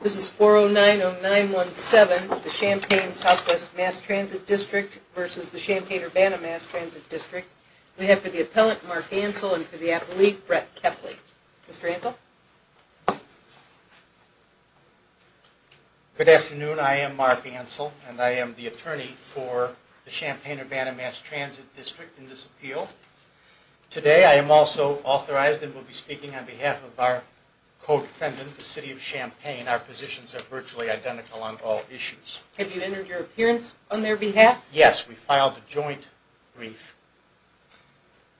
This is 4090917, the Champaign SW Mass Transit District v. Champaign-Urbana Mass Transit District. We have for the appellant, Mark Ansell, and for the appellee, Brett Kepley. Mr. Ansell? Good afternoon. I am Mark Ansell, and I am the attorney for the Champaign-Urbana Mass Transit District in this appeal. Today I am also authorized and will be speaking on behalf of our defendant, the City of Champaign. Our positions are virtually identical on all issues. Have you entered your appearance on their behalf? Yes, we filed a joint brief.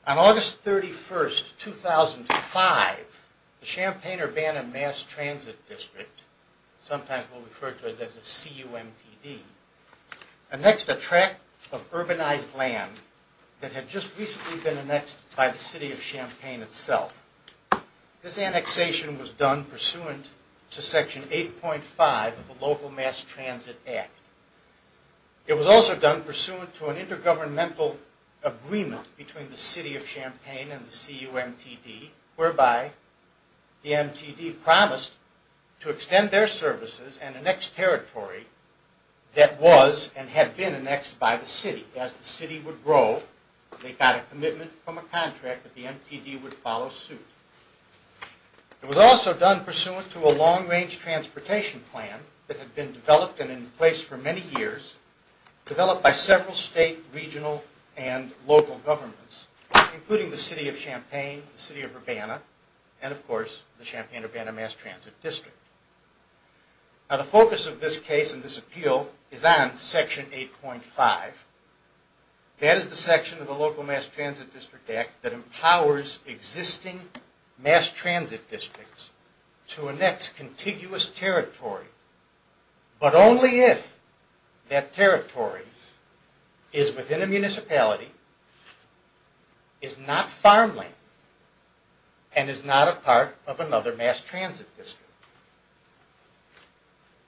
On August 31, 2005, the Champaign-Urbana Mass Transit District, sometimes referred to as the CUMTD, annexed a tract of urbanized land that had just recently been annexed by the City of Champaign itself. This annexation was done pursuant to Section 8.5 of the Local Mass Transit Act. It was also done pursuant to an intergovernmental agreement between the City of Champaign and the CUMTD, whereby the MTD promised to extend their services and annex territory that was and had been annexed by the City. As the City would grow, they got a commitment from a contract that the City would follow suit. It was also done pursuant to a long-range transportation plan that had been developed and in place for many years, developed by several state, regional, and local governments, including the City of Champaign, the City of Urbana, and of course the Champaign-Urbana Mass Transit District. Now the focus of this case and this appeal is on Section 8.5. That is the mass transit districts to annex contiguous territory, but only if that territory is within a municipality, is not farmland, and is not a part of another mass transit district.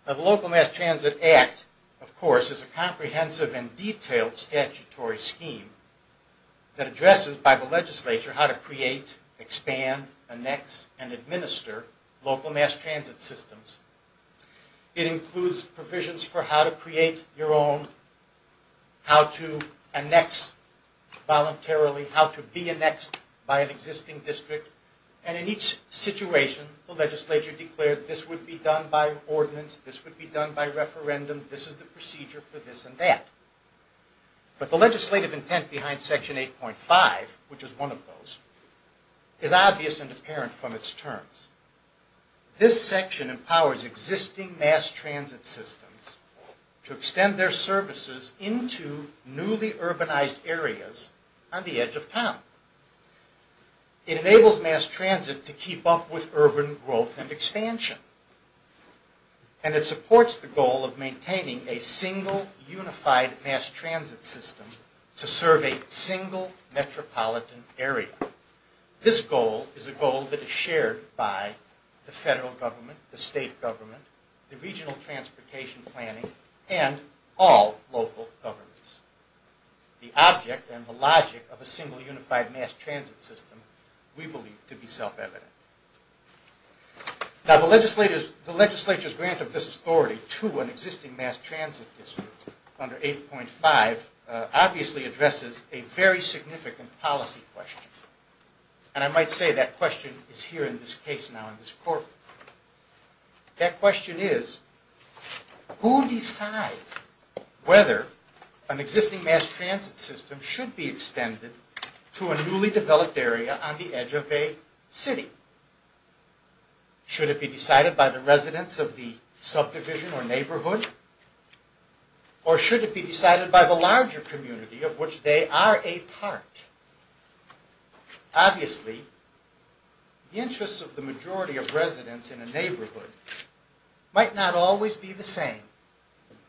Now the Local Mass Transit Act, of course, is a comprehensive and detailed statutory scheme that addresses by the legislature how to create, expand, annex, and administer local mass transit systems. It includes provisions for how to create your own, how to annex voluntarily, how to be annexed by an existing district, and in each situation, the legislature declared this would be done by ordinance, this would be done by referendum, this is the procedure for this and that. But the legislative intent behind Section 8.5, which is one of those, is obvious and apparent from its terms. This section empowers existing mass transit systems to extend their services into newly urbanized areas on the edge of town. It enables mass transit to keep up with urban growth and expansion, and it supports the goal of maintaining a single unified mass transit system to serve a single metropolitan area. This goal is a goal that is shared by the federal government, the state government, the regional transportation planning, and all local governments. The object and the logic of a single unified mass transit system we believe to be self-evident. Now the legislature's grant of this authority to an existing mass transit district under 8.5 obviously addresses a very significant policy question, and I might say that question is here in this case now in this courtroom. That question is, who decides whether an existing mass transit system should be extended to a newly developed area on the edge of a city? Should it be decided by the residents of the subdivision or neighborhood, or should it be decided by the larger community of which they are a part? Obviously the interests of the majority of residents in a neighborhood might not always be the same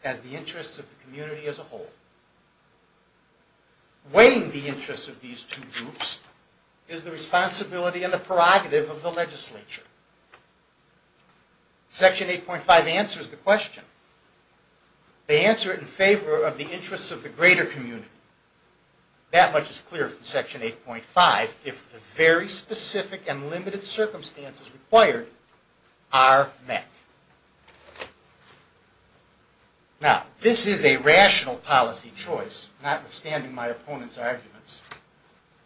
as the interests of the community as a whole. Weighing the interests of these two groups is the responsibility and the prerogative of the legislature. Section 8.5 answers the question. They answer it in favor of the interests of the greater community. That much is clear from section 8.5 if the very specific and limited my opponent's arguments.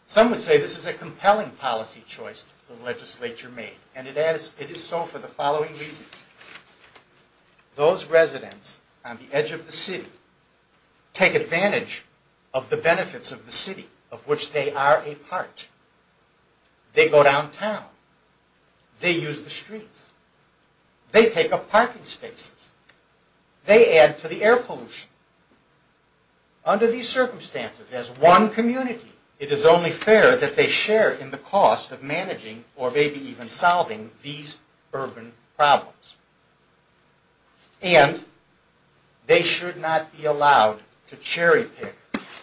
Some would say this is a compelling policy choice the legislature made, and it is so for the following reasons. Those residents on the edge of the city take advantage of the benefits of the city of which they are a part. They go downtown. They use the streets. They take up parking spaces. They add to the air pollution. Under these circumstances, as one community, it is only fair that they share in the cost of managing or maybe even solving these urban problems. And they should not be allowed to cherry pick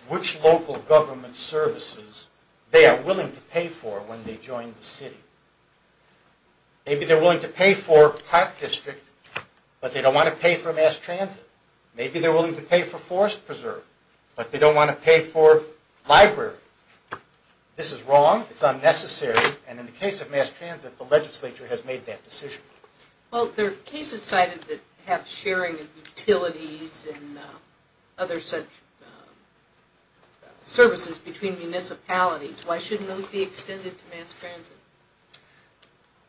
which local government services they are using. Maybe they are willing to pay for park district, but they don't want to pay for mass transit. Maybe they are willing to pay for forest preserve, but they don't want to pay for library. This is wrong. It's unnecessary. And in the case of mass transit, the legislature has made that decision. Well, there are cases cited that have sharing of utilities and other such services between municipalities. Why shouldn't those be extended to mass transit?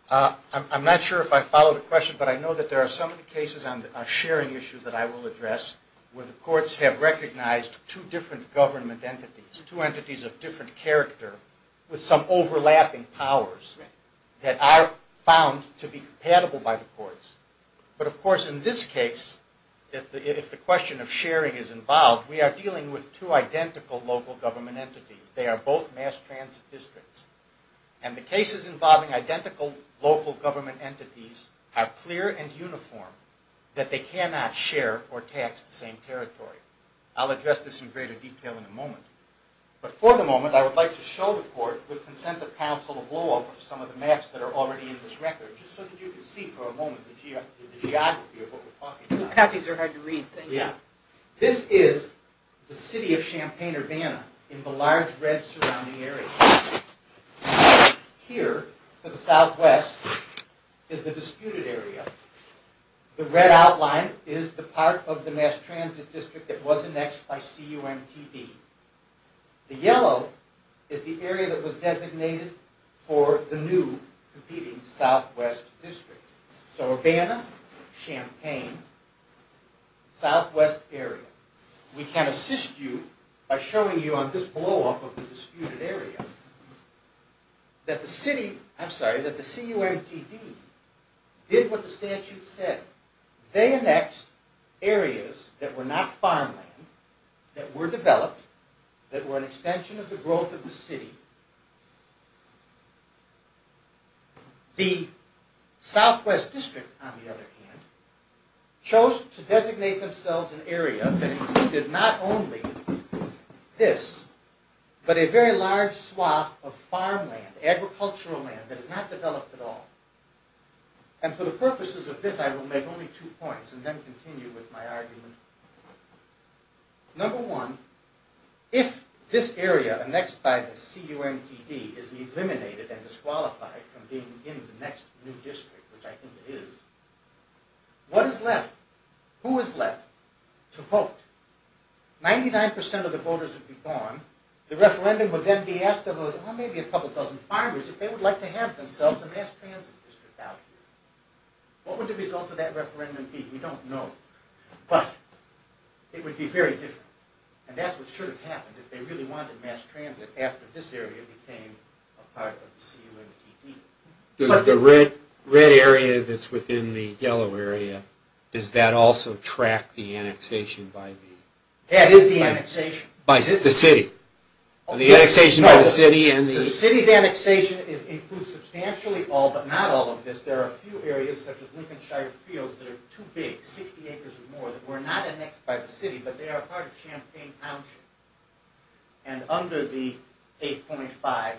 I'm not sure if I follow the question, but I know that there are some cases on a sharing issue that I will address where the courts have recognized two different government entities, two entities of different character with some overlapping powers that are found to be compatible by the courts. But of course, in this case, if the question of sharing is involved, we are dealing with two identical local government entities. They are both mass transit districts. And the cases involving identical local government entities are clear and uniform that they cannot share or tax the same territory. I'll address this in greater detail in a moment. But for the moment, I would like to show the court with consent of counsel a blow-up of some of the maps that are already in this record, just so that you can see for a moment the geography of what we're talking about. The copies are hard to read. Thank you. Yeah. This is the city of Champaign-Urbana in the large red surrounding area. Here to the southwest is the disputed area. The red outline is the part of the mass transit district that was annexed by CUMTB. The yellow is the area that was designated for the new competing southwest district. So Urbana, Champaign, southwest area. We can assist you by showing you on this blow-up of the disputed area that the city, I'm sorry, that the CUMTB did what the statute said. They annexed areas that were not farmland, that were developed, that were an extension of the growth of the city. The southwest district, on the other hand, chose to designate themselves an area that included not only this, but a very large swath of farmland, agricultural land that is not developed at all. And for the purposes of this, I will make only two points and then continue with my argument. Number one, if this area annexed by the CUMTB is eliminated and disqualified from being in the next new district, which I think it is, what is left? Who is left to vote? 99% of the voters would be gone. The referendum would then be asked of maybe a couple dozen farmers if they would like to have themselves a mass transit district out here. What would the results of that referendum be? We don't know, but it would be very different. And that's what should have happened if they really wanted mass transit after this area became a part of the CUMTB. Does the red area that's within the yellow area, does that also track the annexation by the city? The city's annexation includes substantially all but not all of this. There are a few areas such as Lincoln Shire Fields that are too big, 60 acres or more, that were not annexed by the city, but they are part of Champaign Township. And under the 8.5, it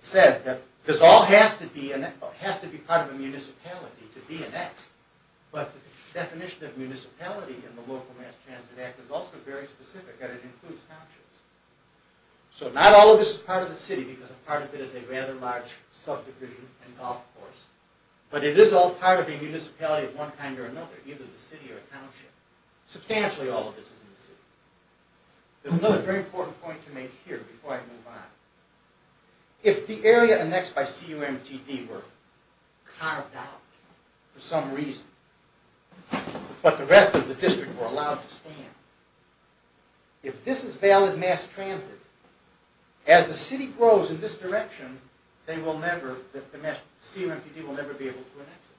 says that this all has to be part of a municipality to be annexed, but the definition of municipality in the Local Mass Transit Act is also very specific and it includes townships. So not all of this is part of the city because a part of it is a rather large subdivision and golf course, but it is all part of a municipality of one kind or another, either the city or township. Substantially all of this is in the city. There's another very important point to make here before I move on. If the area annexed by CUMTB were carved out for some reason, but the rest of the district were allowed to stand, if this is valid mass transit, as the city grows in this direction, the CUMTB will never be able to annex it.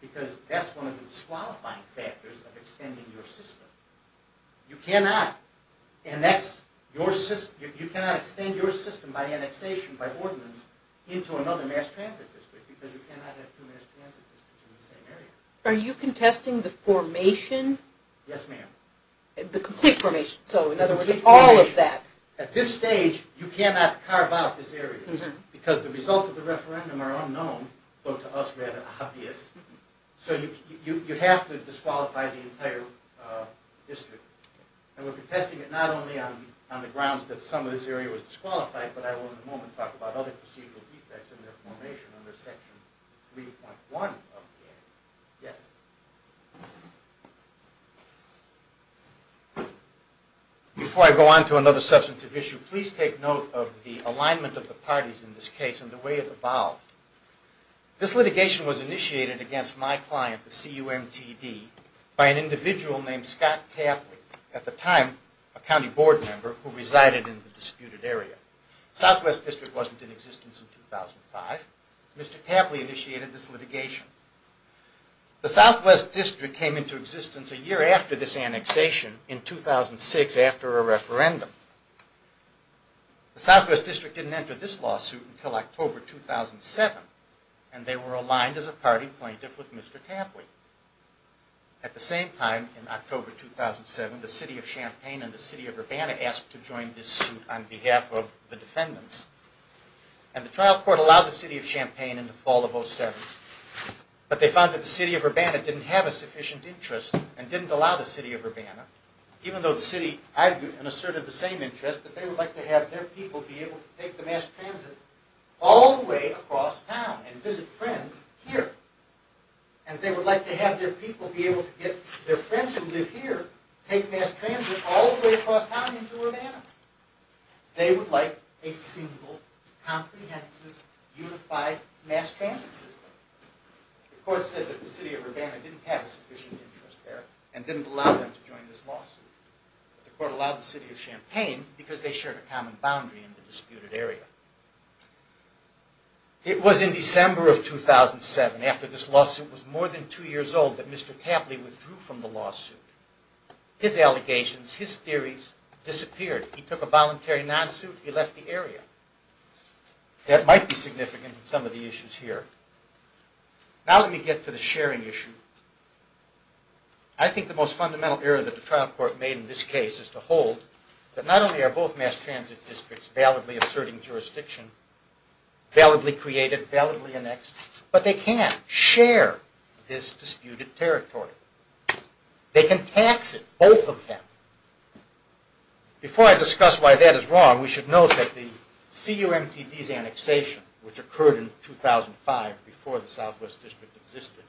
Because that's one of the disqualifying factors of extending your system. You cannot extend your system by annexation, by ordinance, into another mass transit district because you cannot have two mass transit districts in the same area. Are you contesting the formation? Yes ma'am. The complete formation. So in other words, all of that. At this stage you cannot carve out this area because the results of the referendum are unknown, but to us rather obvious. So you have to disqualify the entire district. And we're contesting it not only on the grounds that some of this area was disqualified, but I will in a moment talk about other procedural defects in their formation under section 3.1. Yes? Before I go on to another substantive issue, please take note of the alignment of the parties in this case and the way it evolved. This litigation was initiated against my client, the CUMTB, by an individual named Scott Tapley, at the time a county board member who resided in the disputed area. Southwest District wasn't in 2005. Mr. Tapley initiated this litigation. The Southwest District came into existence a year after this annexation in 2006 after a referendum. The Southwest District didn't enter this lawsuit until October 2007, and they were aligned as a party plaintiff with Mr. Tapley. At the same time in October 2007, the city of Champaign and the city of Urbana asked to join this suit on behalf of the defendants. And the trial court allowed the city of Champaign in the fall of 2007, but they found that the city of Urbana didn't have a sufficient interest and didn't allow the city of Urbana, even though the city argued and asserted the same interest that they would like to have their people be able to take the mass transit all the way across town and visit friends here. And they would like to have their people be able to get their friends who live here take mass transit all the way across town into Urbana. They would like a single comprehensive unified mass transit system. The court said that the city of Urbana didn't have a sufficient interest there and didn't allow them to join this lawsuit. The court allowed the city of Champaign because they shared a common boundary in the disputed area. It was in December of 2007 after this lawsuit was more than two years old that Mr. Tapley withdrew from the lawsuit. His allegations, his theories disappeared. He took a voluntary non-suit. He left the area. That might be significant in some of the issues here. Now let me get to the sharing issue. I think the most fundamental error that the trial court made in this case is to hold that not only are both mass transit districts validly asserting jurisdiction, validly created, validly annexed, but they can't share this disputed territory. They can tax it, both of them. Before I discuss why that is wrong, we should note that the CUMTD's annexation, which occurred in 2005 before the Southwest District existed,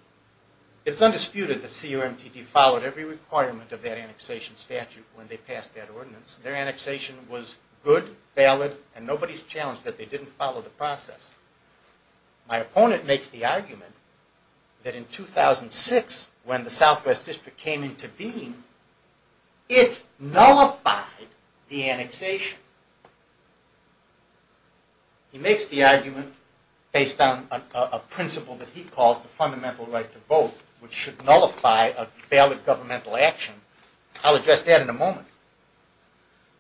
it is undisputed that CUMTD followed every requirement of that annexation statute when they passed that ordinance. Their annexation was good, valid, and nobody's challenged that they didn't follow the process. My opponent makes the argument that in 2006, when the Southwest District came into being, it nullified the annexation. He makes the argument based on a principle that he calls the fundamental right to vote, which should nullify a valid governmental action. I'll address that in a moment.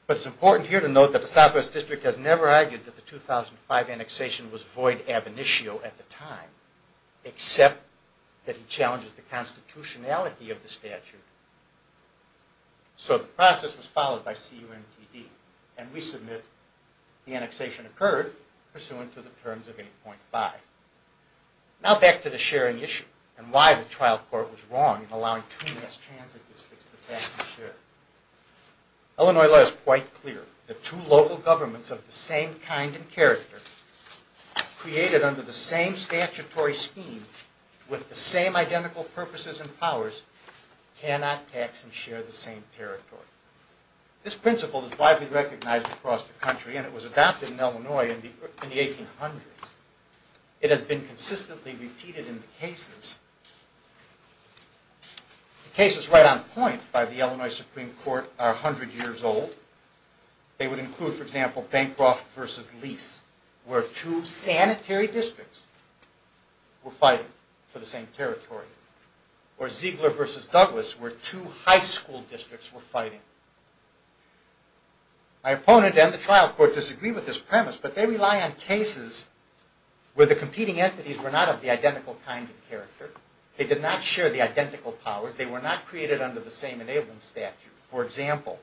But it's important here to note that the Southwest District has never argued that the 2005 annexation was void ab initio at the time, except that he challenges the constitutionality of the statute. So the process was followed by CUMTD, and we submit the annexation occurred pursuant to the terms of 8.5. Now back to the sharing issue and why the trial court was wrong in allowing two mass transit districts to tax and share. Illinois law is quite clear. The two local governments of the same kind and character, created under the same statutory scheme with the same identical purposes and powers, cannot tax and share the same territory. This principle is widely recognized across the country, and it was adopted in Illinois in the 1800s. It has been consistently repeated in the cases of the past. The cases right on point by the Illinois Supreme Court are 100 years old. They would include, for example, Bancroft versus Lease, where two sanitary districts were fighting for the same territory. Or Ziegler versus Douglas, where two high school districts were fighting. My opponent and the trial court disagree with this premise, but they rely on They did not share the identical powers. They were not created under the same enabling statute. For example,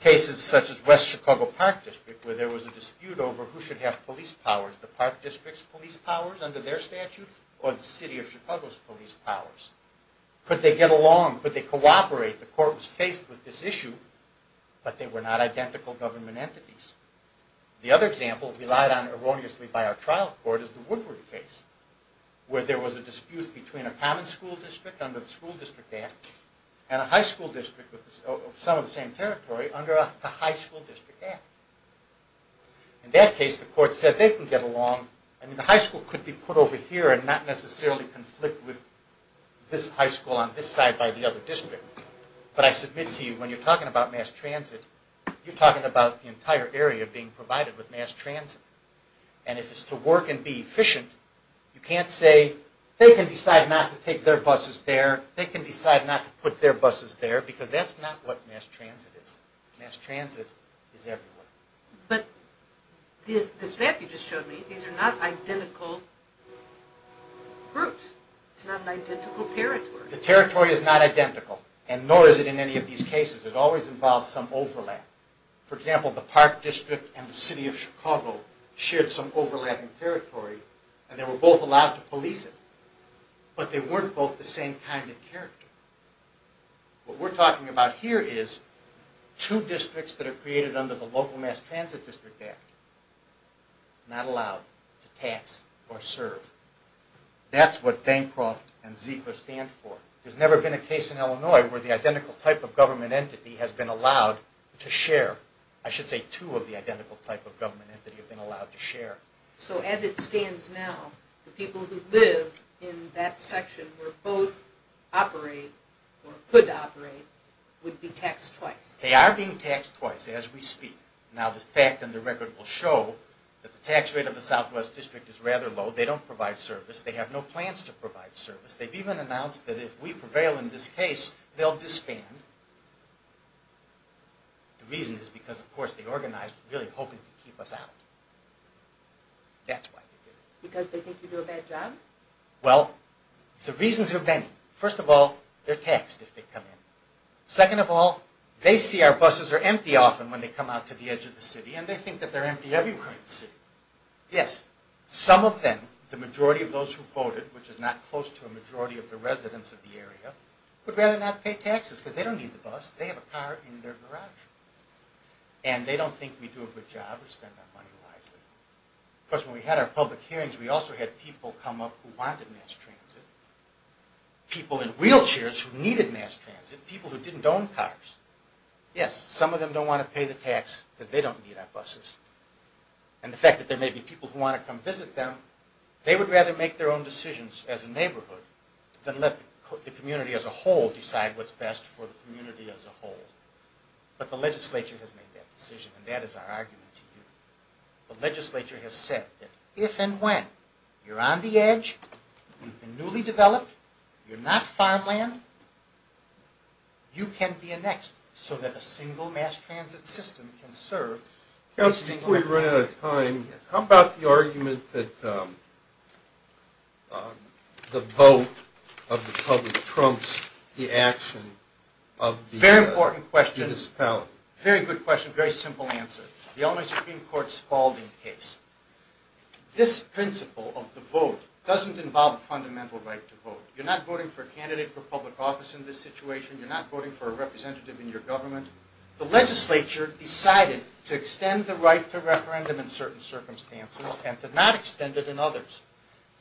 cases such as West Chicago Park District, where there was a dispute over who should have police powers. The park district's police powers under their statute, or the city of Chicago's police powers. Could they get along? Could they cooperate? The court was faced with this issue, but they were not identical government entities. The other example relied on erroneously by our trial court is the Woodward case, where there was a dispute between a common school district under the school district act, and a high school district of some of the same territory under the high school district act. In that case, the court said they can get along. The high school could be put over here and not necessarily conflict with this high school on this side by the other district. But I submit to you, when you're talking about mass transit, you're talking about the work and be efficient. You can't say they can decide not to take their buses there. They can decide not to put their buses there, because that's not what mass transit is. Mass transit is everywhere. But this map you just showed me, these are not identical groups. It's not an identical territory. The territory is not identical, and nor is it in any of these cases. It always involves some overlap. For example, the park district and the city of Illinois were overlapping territory, and they were both allowed to police it. But they weren't both the same kind of character. What we're talking about here is two districts that are created under the local mass transit district act, not allowed to tax or serve. That's what Bancroft and Ziegler stand for. There's never been a case in Illinois where the identical type of government entity has been allowed to share. I should say two of the identical type of government entities. So as it stands now, the people who live in that section where both operate or could operate would be taxed twice. They are being taxed twice as we speak. Now the fact and the record will show that the tax rate of the southwest district is rather low. They don't provide service. They have no plans to provide service. They've even announced that if we prevail in this case, they'll disband. The reason is because, of course, they organized really hoping to keep us out. That's why they did it. Because they think you do a bad job? Well, the reasons are many. First of all, they're taxed if they come in. Second of all, they see our buses are empty often when they come out to the edge of the city, and they think that they're empty everywhere in the city. Yes, some of them, the majority of those who voted, which is not close to a majority of the residents of the area, would rather not pay taxes because they don't need the bus. They have a car in their garage, and they don't think we do a good job or spend our money wisely. Of course, when we had our public hearings, we also had people come up who wanted mass transit, people in wheelchairs who needed mass transit, people who didn't own cars. Yes, some of them don't want to pay the tax because they don't need our buses. And the fact that there may be people who want to come visit them, they would rather make their own decisions as a neighborhood than let the community as a whole decide what's best for the community as a whole. But the legislature has made that decision, and that is our argument to you. The legislature has said that if and when you're on the edge, you've been newly developed, you're not farmland, you can be a next, so that a single mass transit system can serve. Councilman, before we run out of time, how about the argument that the vote of the public trumps the action of the municipality? Very important question, very good question, very simple answer. The Illinois Supreme Court's Spaulding case. This principle of the vote doesn't involve a fundamental right to vote. You're not voting for a candidate for public office in this situation. You're not voting for a representative in your government. The legislature decided to extend the right to referendum in certain circumstances and to not extend it in others.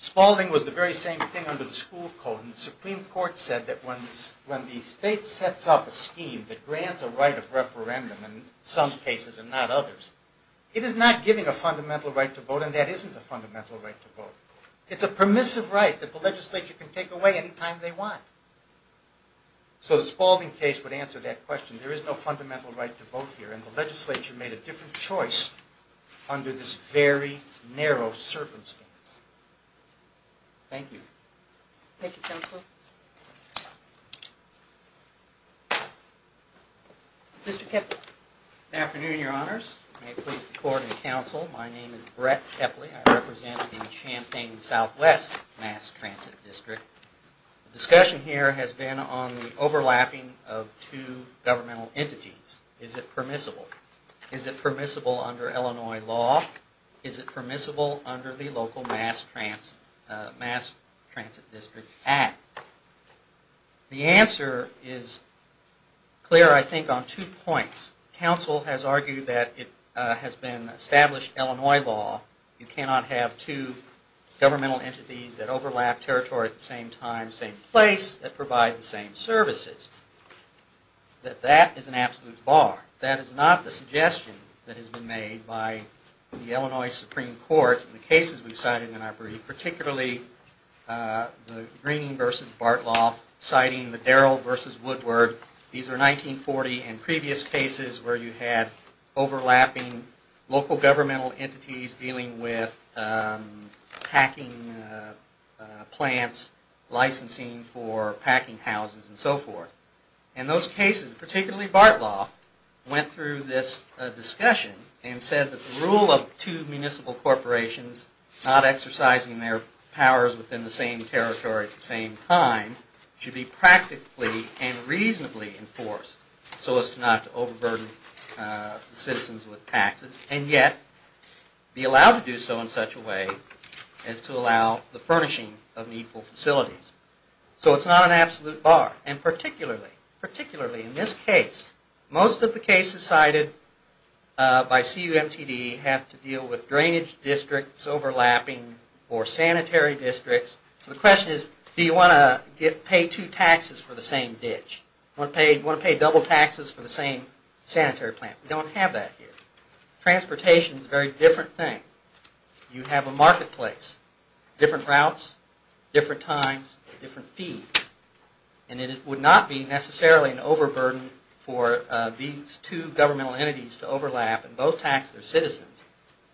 Spaulding was the very same thing under the school code, and the Supreme Court said that when the state sets up a scheme that grants a right of referendum in some cases and not others, it is not giving a fundamental right to vote, and that isn't a fundamental right to vote. It's a permissive right that the legislature can take away anytime they want. So the Spaulding case would answer that question. There is no fundamental right to vote here, and the legislature made a different choice under this very narrow circumstance. Thank you. Thank you, counsel. Mr. Kepley. Good afternoon, your honors. May it please the court and counsel, my name is Brett Kepley. I'm with the Southwest Mass Transit District. The discussion here has been on the overlapping of two governmental entities. Is it permissible? Is it permissible under Illinois law? Is it permissible under the local Mass Transit District Act? The answer is clear, I think, on two points. Counsel has argued that it has been established Illinois law, you cannot have two governmental entities that overlap territory at the same time, same place, that provide the same services. That that is an absolute bar. That is not the suggestion that has been made by the Illinois Supreme Court in the cases we've cited in our brief, particularly the Greening versus Bartloff citing the Darrell versus Woodward. These are 1940 and previous cases where you had overlapping local governmental entities dealing with packing plants, licensing for packing houses and so forth. And those cases, particularly Bartloff, went through this discussion and said that the rule of two municipal corporations not exercising their powers within the same territory at the same time should be practically and reasonably enforced so as to not overburden the citizens with taxes and yet be allowed to do so in such a way as to allow the furnishing of needful facilities. So it's not an absolute bar. And particularly, particularly in this case, most of the cases cited by CUMTD have to deal with drainage districts overlapping or sanitary districts. So the question is, do you want to pay two taxes for the same ditch? Want to pay double taxes for the same sanitary plant? We don't have that here. Transportation is a very different thing. You have a marketplace, different routes, different times, different fees. And it would not be necessarily an overburden for these two governmental entities to overlap and both tax their citizens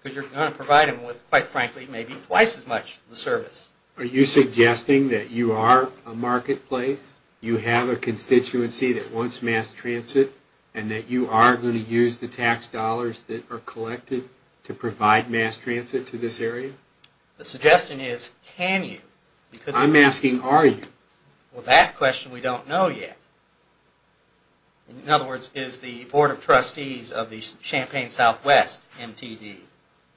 because you're going to provide them with, quite frankly, maybe twice as much service. Are you suggesting that you are a marketplace? You have a constituency that wants mass transit and that you are going to use the tax dollars that are collected to provide mass transit to this area? The suggestion is, can you? I'm asking, are you? Well, that question we don't know yet. In other words, is the Board of Trustees of the Champaign Southwest MTD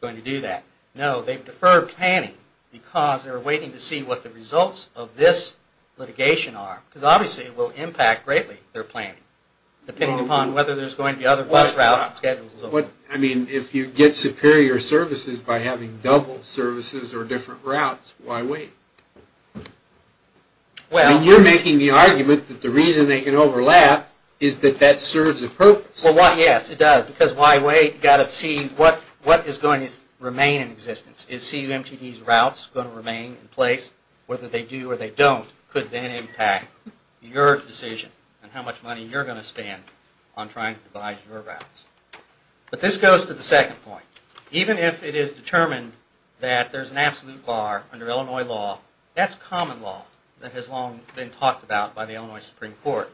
going to do that? No, they've deferred planning because they're waiting to see what the results of this litigation are. Because obviously, it will impact greatly their planning, depending upon whether there's going to be other bus routes and schedules as well. I mean, if you get superior services by having double services or different routes, why wait? You're making the argument that the reason they can overlap is that that serves a purpose. Yes, it does. Because why wait? You've got to see what is going to remain in existence. Is CUMTD's routes going to remain in place? Whether they do or they don't could then impact your decision and how much money you're going to spend on trying to devise your routes. But this goes to the second point. Even if it is determined that there's an absolute bar under Illinois law, that's common law that has long been talked about by the Illinois Supreme Court.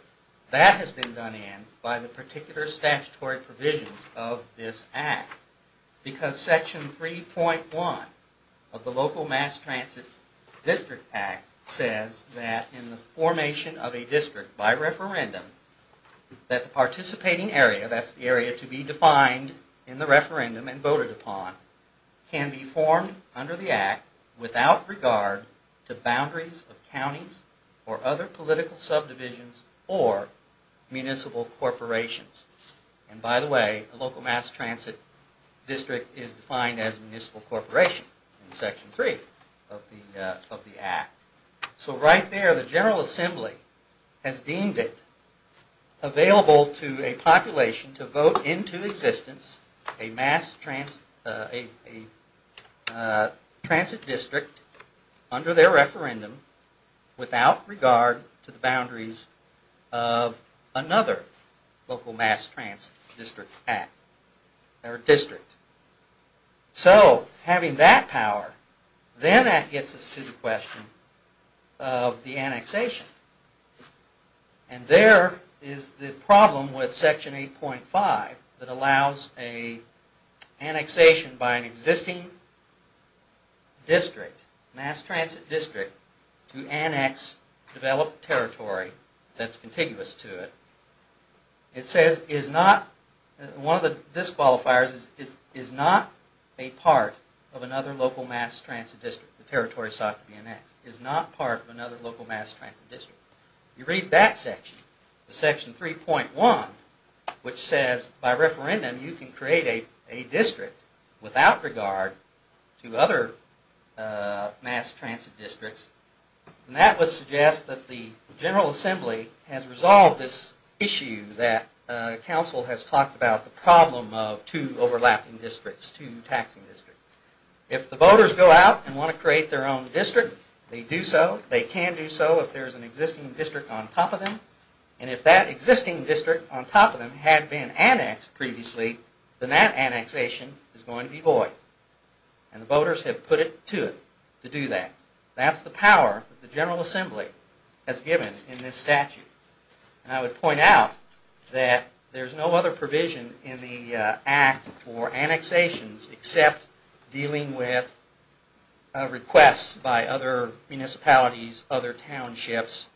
That has been done by the particular statutory provisions of this act. Because section 3.1 of the local mass transit district act says that in the formation of a district by referendum, that the participating area, that's the area to be defined in the referendum and voted upon, can be formed under the act without regard to boundaries of counties or other political subdivisions or municipal corporations. And by the way, a local mass transit district is defined as a municipal corporation in section 3 of the act. So right there, the General Assembly has deemed it available to a population to vote into existence a mass transit district under their of another local mass transit district act or district. So having that power, then that gets us to the question of the annexation. And there is the problem with section 8.5 that allows an annexation by an existing district, mass transit district, to annex developed territory that's contiguous to it. It says is not, one of the disqualifiers is, is not a part of another local mass transit district. The territory sought to be annexed is not part of another local mass transit district. You read that section, the section 3.1, which says by referendum you can create a district without regard to other mass transit districts and that would suggest that the General Assembly has resolved this issue that council has talked about the problem of two overlapping districts, two taxing districts. If the voters go out and want to create their own district, they do so. They can do so if there is an existing district on top of them and if that existing district on top of them had been annexed previously, then that annexation is going to be void and the voters have put it to it to do that. That's the power the General Assembly has given in this statute and I would point out that there's no other provision in the act for annexations except dealing with requests by other municipalities, other townships,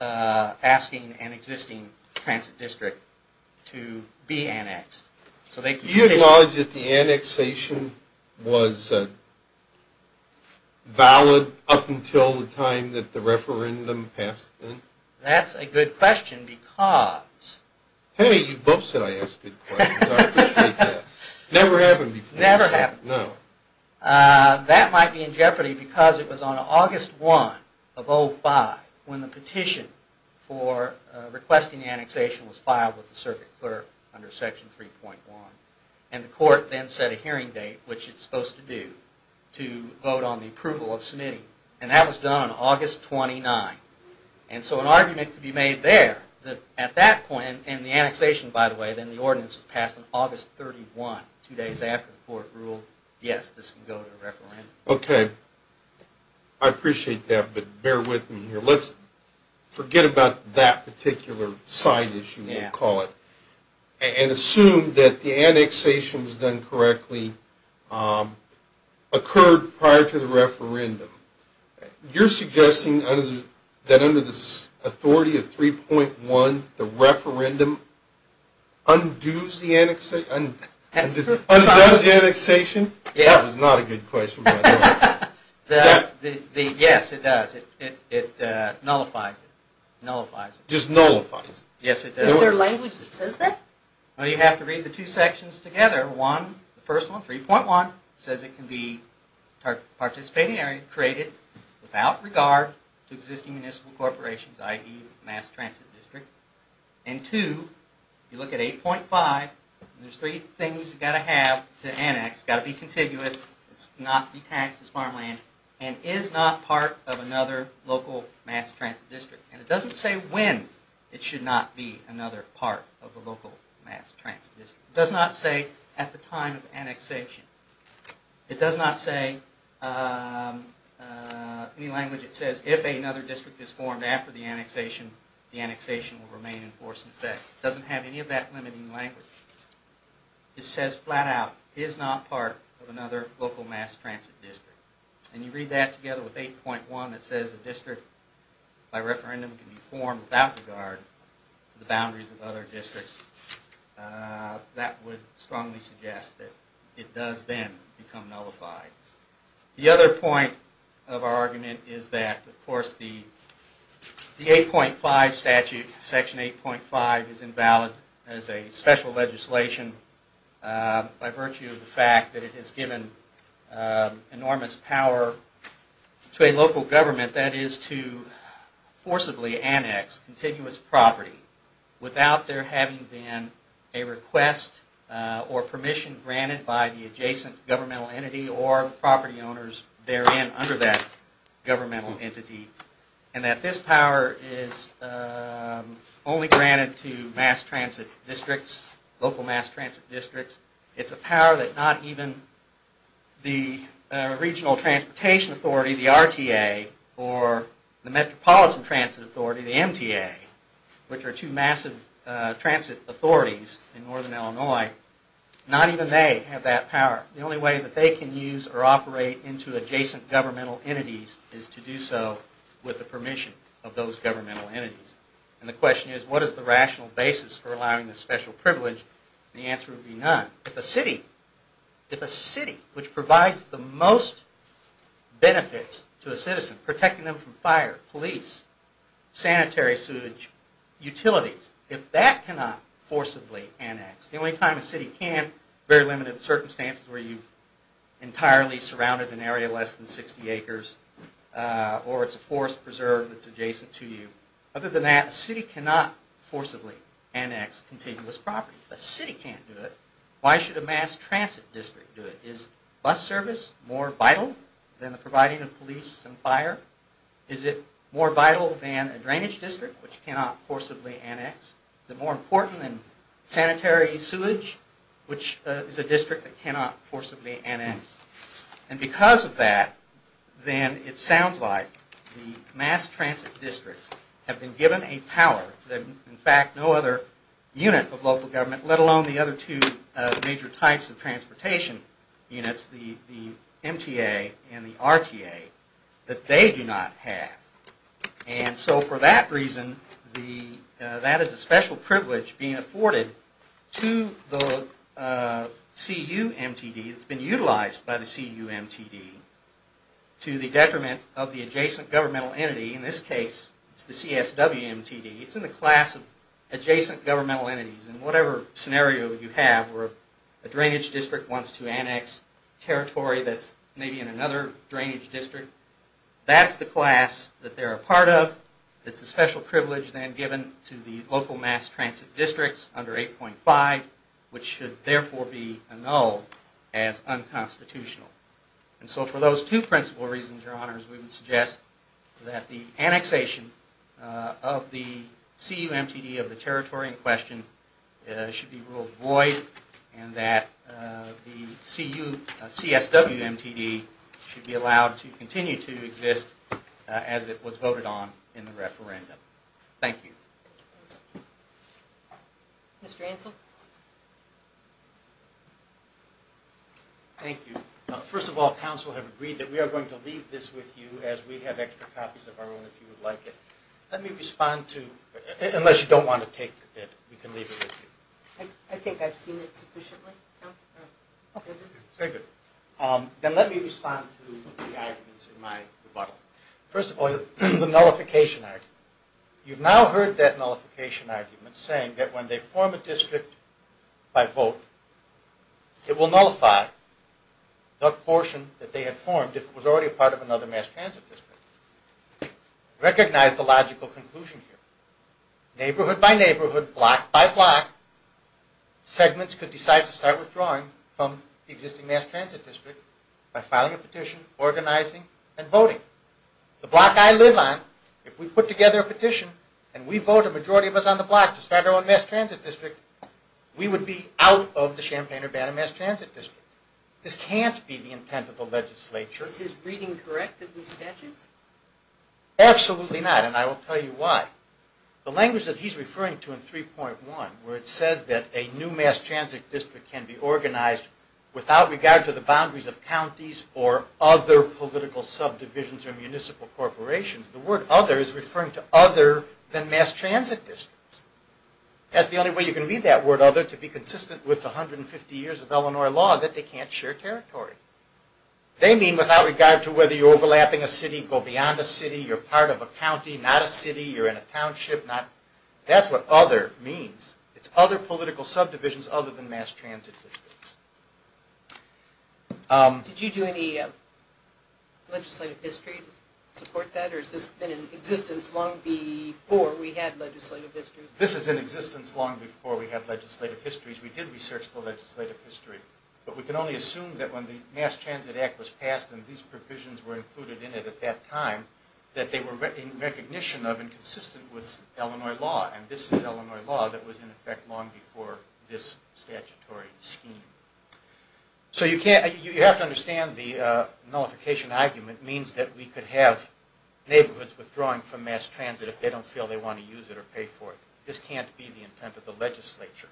asking an existing transit district to be annexed. So they can... Do you acknowledge that the annexation was valid up until the time that the referendum passed? That's a good question because... Hey, you both said I asked good questions. Never happened before. Never happened before. That might be in jeopardy because it was on August 1 of 05 when the petition for requesting annexation was filed with the circuit clerk under section 3.1 and the court then set a hearing date, which it's supposed to do, to vote on the approval of submitting and that was done on August 29. And so an argument could be made there that at that point, and the annexation by the way, then the ordinance was passed on August 31, two days after the court ruled yes, this can go to a referendum. Okay. I appreciate that, but bear with me here. Let's forget about that particular side issue, we'll call it, and assume that the annexation was done correctly, occurred prior to the referendum. You're suggesting that under the authority of 3.1, the referendum undoes the annexation? Undoes the annexation? That is not a good question. Yes, it does. It nullifies it. Nullifies it. Just nullifies it? Yes, it does. Is there language that says that? Well, you have to read the two sections together. One, the first one, 3.1, says it can be participating area created without regard to existing municipal corporations, i.e. mass transit district. And two, you look at 8.5, there's three things you've got to have to annex. It's got to be contiguous, it's not be taxed as farmland, and is not part of another local mass transit district. And it doesn't say when it should not be another part of the local mass transit district. It does not say at the time of annexation. It does not say any language that says if another district is formed after the annexation, the annexation will remain in force. In fact, it doesn't have any of that limiting language. It says flat out, is not part of another local mass transit district. And you read that together with 8.1, it says a district by referendum can be formed without regard to the boundaries of other districts. That would strongly suggest that it does then become nullified. The other point of our argument is that, of course, the 8.5 statute, section 8.5, is invalid as a special legislation by virtue of the fact that it has given enormous power to a local government that is to forcibly annex continuous property without there having been a request or permission granted by the adjacent governmental entity or property owners therein under that governmental entity. And that this power is only granted to mass transit districts, local mass transit districts. It's a power that not even the Regional Transportation Authority, the RTA, or the Metropolitan Transit Authority, the MTA, which are two massive transit authorities in northern Illinois, not even they have that power. The only way that they can use or operate into adjacent governmental entities is to do so with the permission of those governmental entities. And the question is, what is the rational basis for allowing this special privilege? The answer would be none. If a city, if a city which provides the most benefits to a citizen, protecting them from fire, police, sanitary sewage, utilities, if that cannot forcibly annex, the only time a city can, very limited circumstances where you entirely surrounded an area less than 60 acres or it's a forest preserve that's adjacent to you. Other than that, a city cannot forcibly annex continuous property. A city can't do it. Why should a mass transit district do it? Is bus service more vital than the providing of police and fire? Is it more vital than a drainage district, which cannot forcibly annex? Is it more important than sanitary sewage, which is a district that cannot forcibly annex? And because of that, then it sounds like the mass transit districts have been given a power that in fact no other unit of local government, let alone the other two major types of transportation units, the MTA and the RTA, that they do not have. And so for that reason, that is a special privilege being afforded to the CUMTD that's been utilized by the CUMTD to the detriment of the adjacent governmental entity. In this case, it's the CSWMTD. It's in the class of adjacent governmental entities. In whatever scenario you have where a drainage district wants to annex territory that's maybe in another part of, it's a special privilege then given to the local mass transit districts under 8.5, which should therefore be annulled as unconstitutional. And so for those two principal reasons, your honors, we would suggest that the annexation of the CUMTD of the territory in question should be ruled void and that the CSWMTD should be allowed to continue to exist as it was voted on in the referendum. Thank you. Mr. Ansell? Thank you. First of all, counsel have agreed that we are going to leave this with you as we have extra copies of our own if you would like it. Let me respond to, unless you don't want to take it, we can leave it with you. I think I've seen it sufficiently. Okay. Very good. Then let me respond to the arguments in my rebuttal. First of all, the nullification argument. You've now heard that nullification argument saying that when they form a district by vote, it will nullify that portion that they had formed if it was already a part of another mass transit district. Recognize the logical conclusion here. Neighborhood by neighborhood, block by block, segments could decide to start withdrawing from the existing mass transit district by filing a petition, organizing, and voting. The block I live on, if we put together a petition and we vote a majority of us on the block to start our own mass transit district, we would be out of the Champaign-Urbana mass transit district. This can't be the intent of the legislature. Is his reading correct of the statutes? Absolutely not, and I will tell you why. The language that he's referring to in 3.1, where it says that a new mass transit district can be organized without regard to the boundaries of counties or other political subdivisions or municipal corporations, the word other is referring to other than mass transit districts. That's the only way you can read that word other to be consistent with the 150 years of Illinois law that they can't share territory. They mean without regard to whether you're overlapping a city, go beyond a city, you're part of a county, not a city, you're in a township. That's what other means. It's other political subdivisions other than mass transit districts. Did you do any legislative history to support that, or has this been in existence long before we had legislative histories? This is in existence long before we had legislative histories. We did research the legislative history, but we can only assume that when the Mass Transit Act was passed and these provisions were included in it at that time, that they were in recognition of and consistent with Illinois law, and this is Illinois law that was in effect long before this statutory scheme. So you have to understand the nullification argument means that we could have neighborhoods withdrawing from mass transit if they don't feel they want to use it or pay for it. This can't be the intent of the legislature.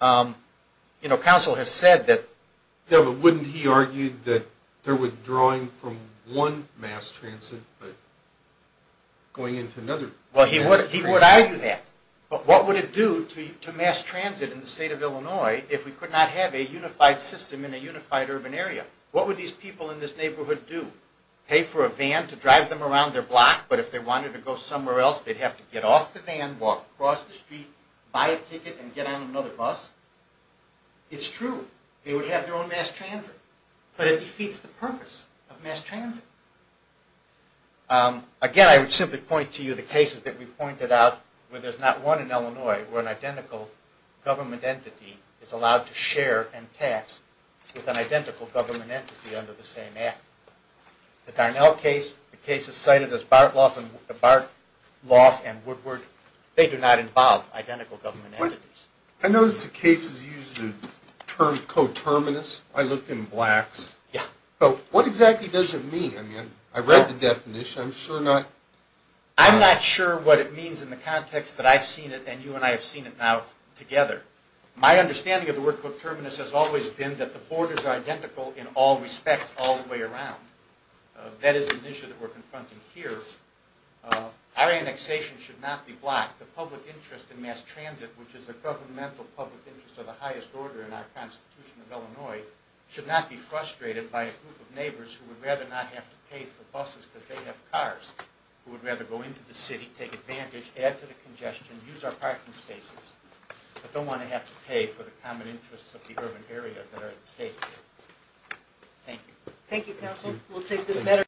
You know, council has said that... Yeah, but wouldn't he argue that they're withdrawing from one mass transit but going into another? Well, he would argue that, but what would it do to mass transit in the state of Illinois if we could not have a unified system in a unified urban area? What would these people in this neighborhood do? Pay for a van to drive them around their block, but if they wanted to go somewhere else they'd have to get off the van, walk across the street, buy a ticket, and get on another bus. It's true they would have their own mass transit, but it defeats the purpose of mass transit. Again, I would simply point to you the cases that we pointed out where there's not one in Illinois where an identical government entity is allowed to share and tax with an identical government entity under the same act. The Darnell case, the cases cited as Bartloff and Woodward, they do not involve identical government entities. I noticed the cases use the term coterminous. I looked in blacks. Yeah. So what exactly does it mean? I mean, I read the definition. I'm sure not... I'm not sure what it means in the context that I've seen it and you and I have seen it now together. My understanding of the word coterminous has always been that the borders are identical in all respects all the way around. That is an issue that we're confronting here. Our annexation should not be blocked. The public interest in mass transit, which is the governmental public interest of the highest order in our Constitution of Illinois, should not be frustrated by a group of neighbors who would rather not have to pay for buses because they have cars, who would rather go into the city, take advantage, add to the congestion, use our parking spaces, but don't want to have to pay for the common interests of the urban area that are at stake. Thank you. Thank you, counsel. We'll take this matter...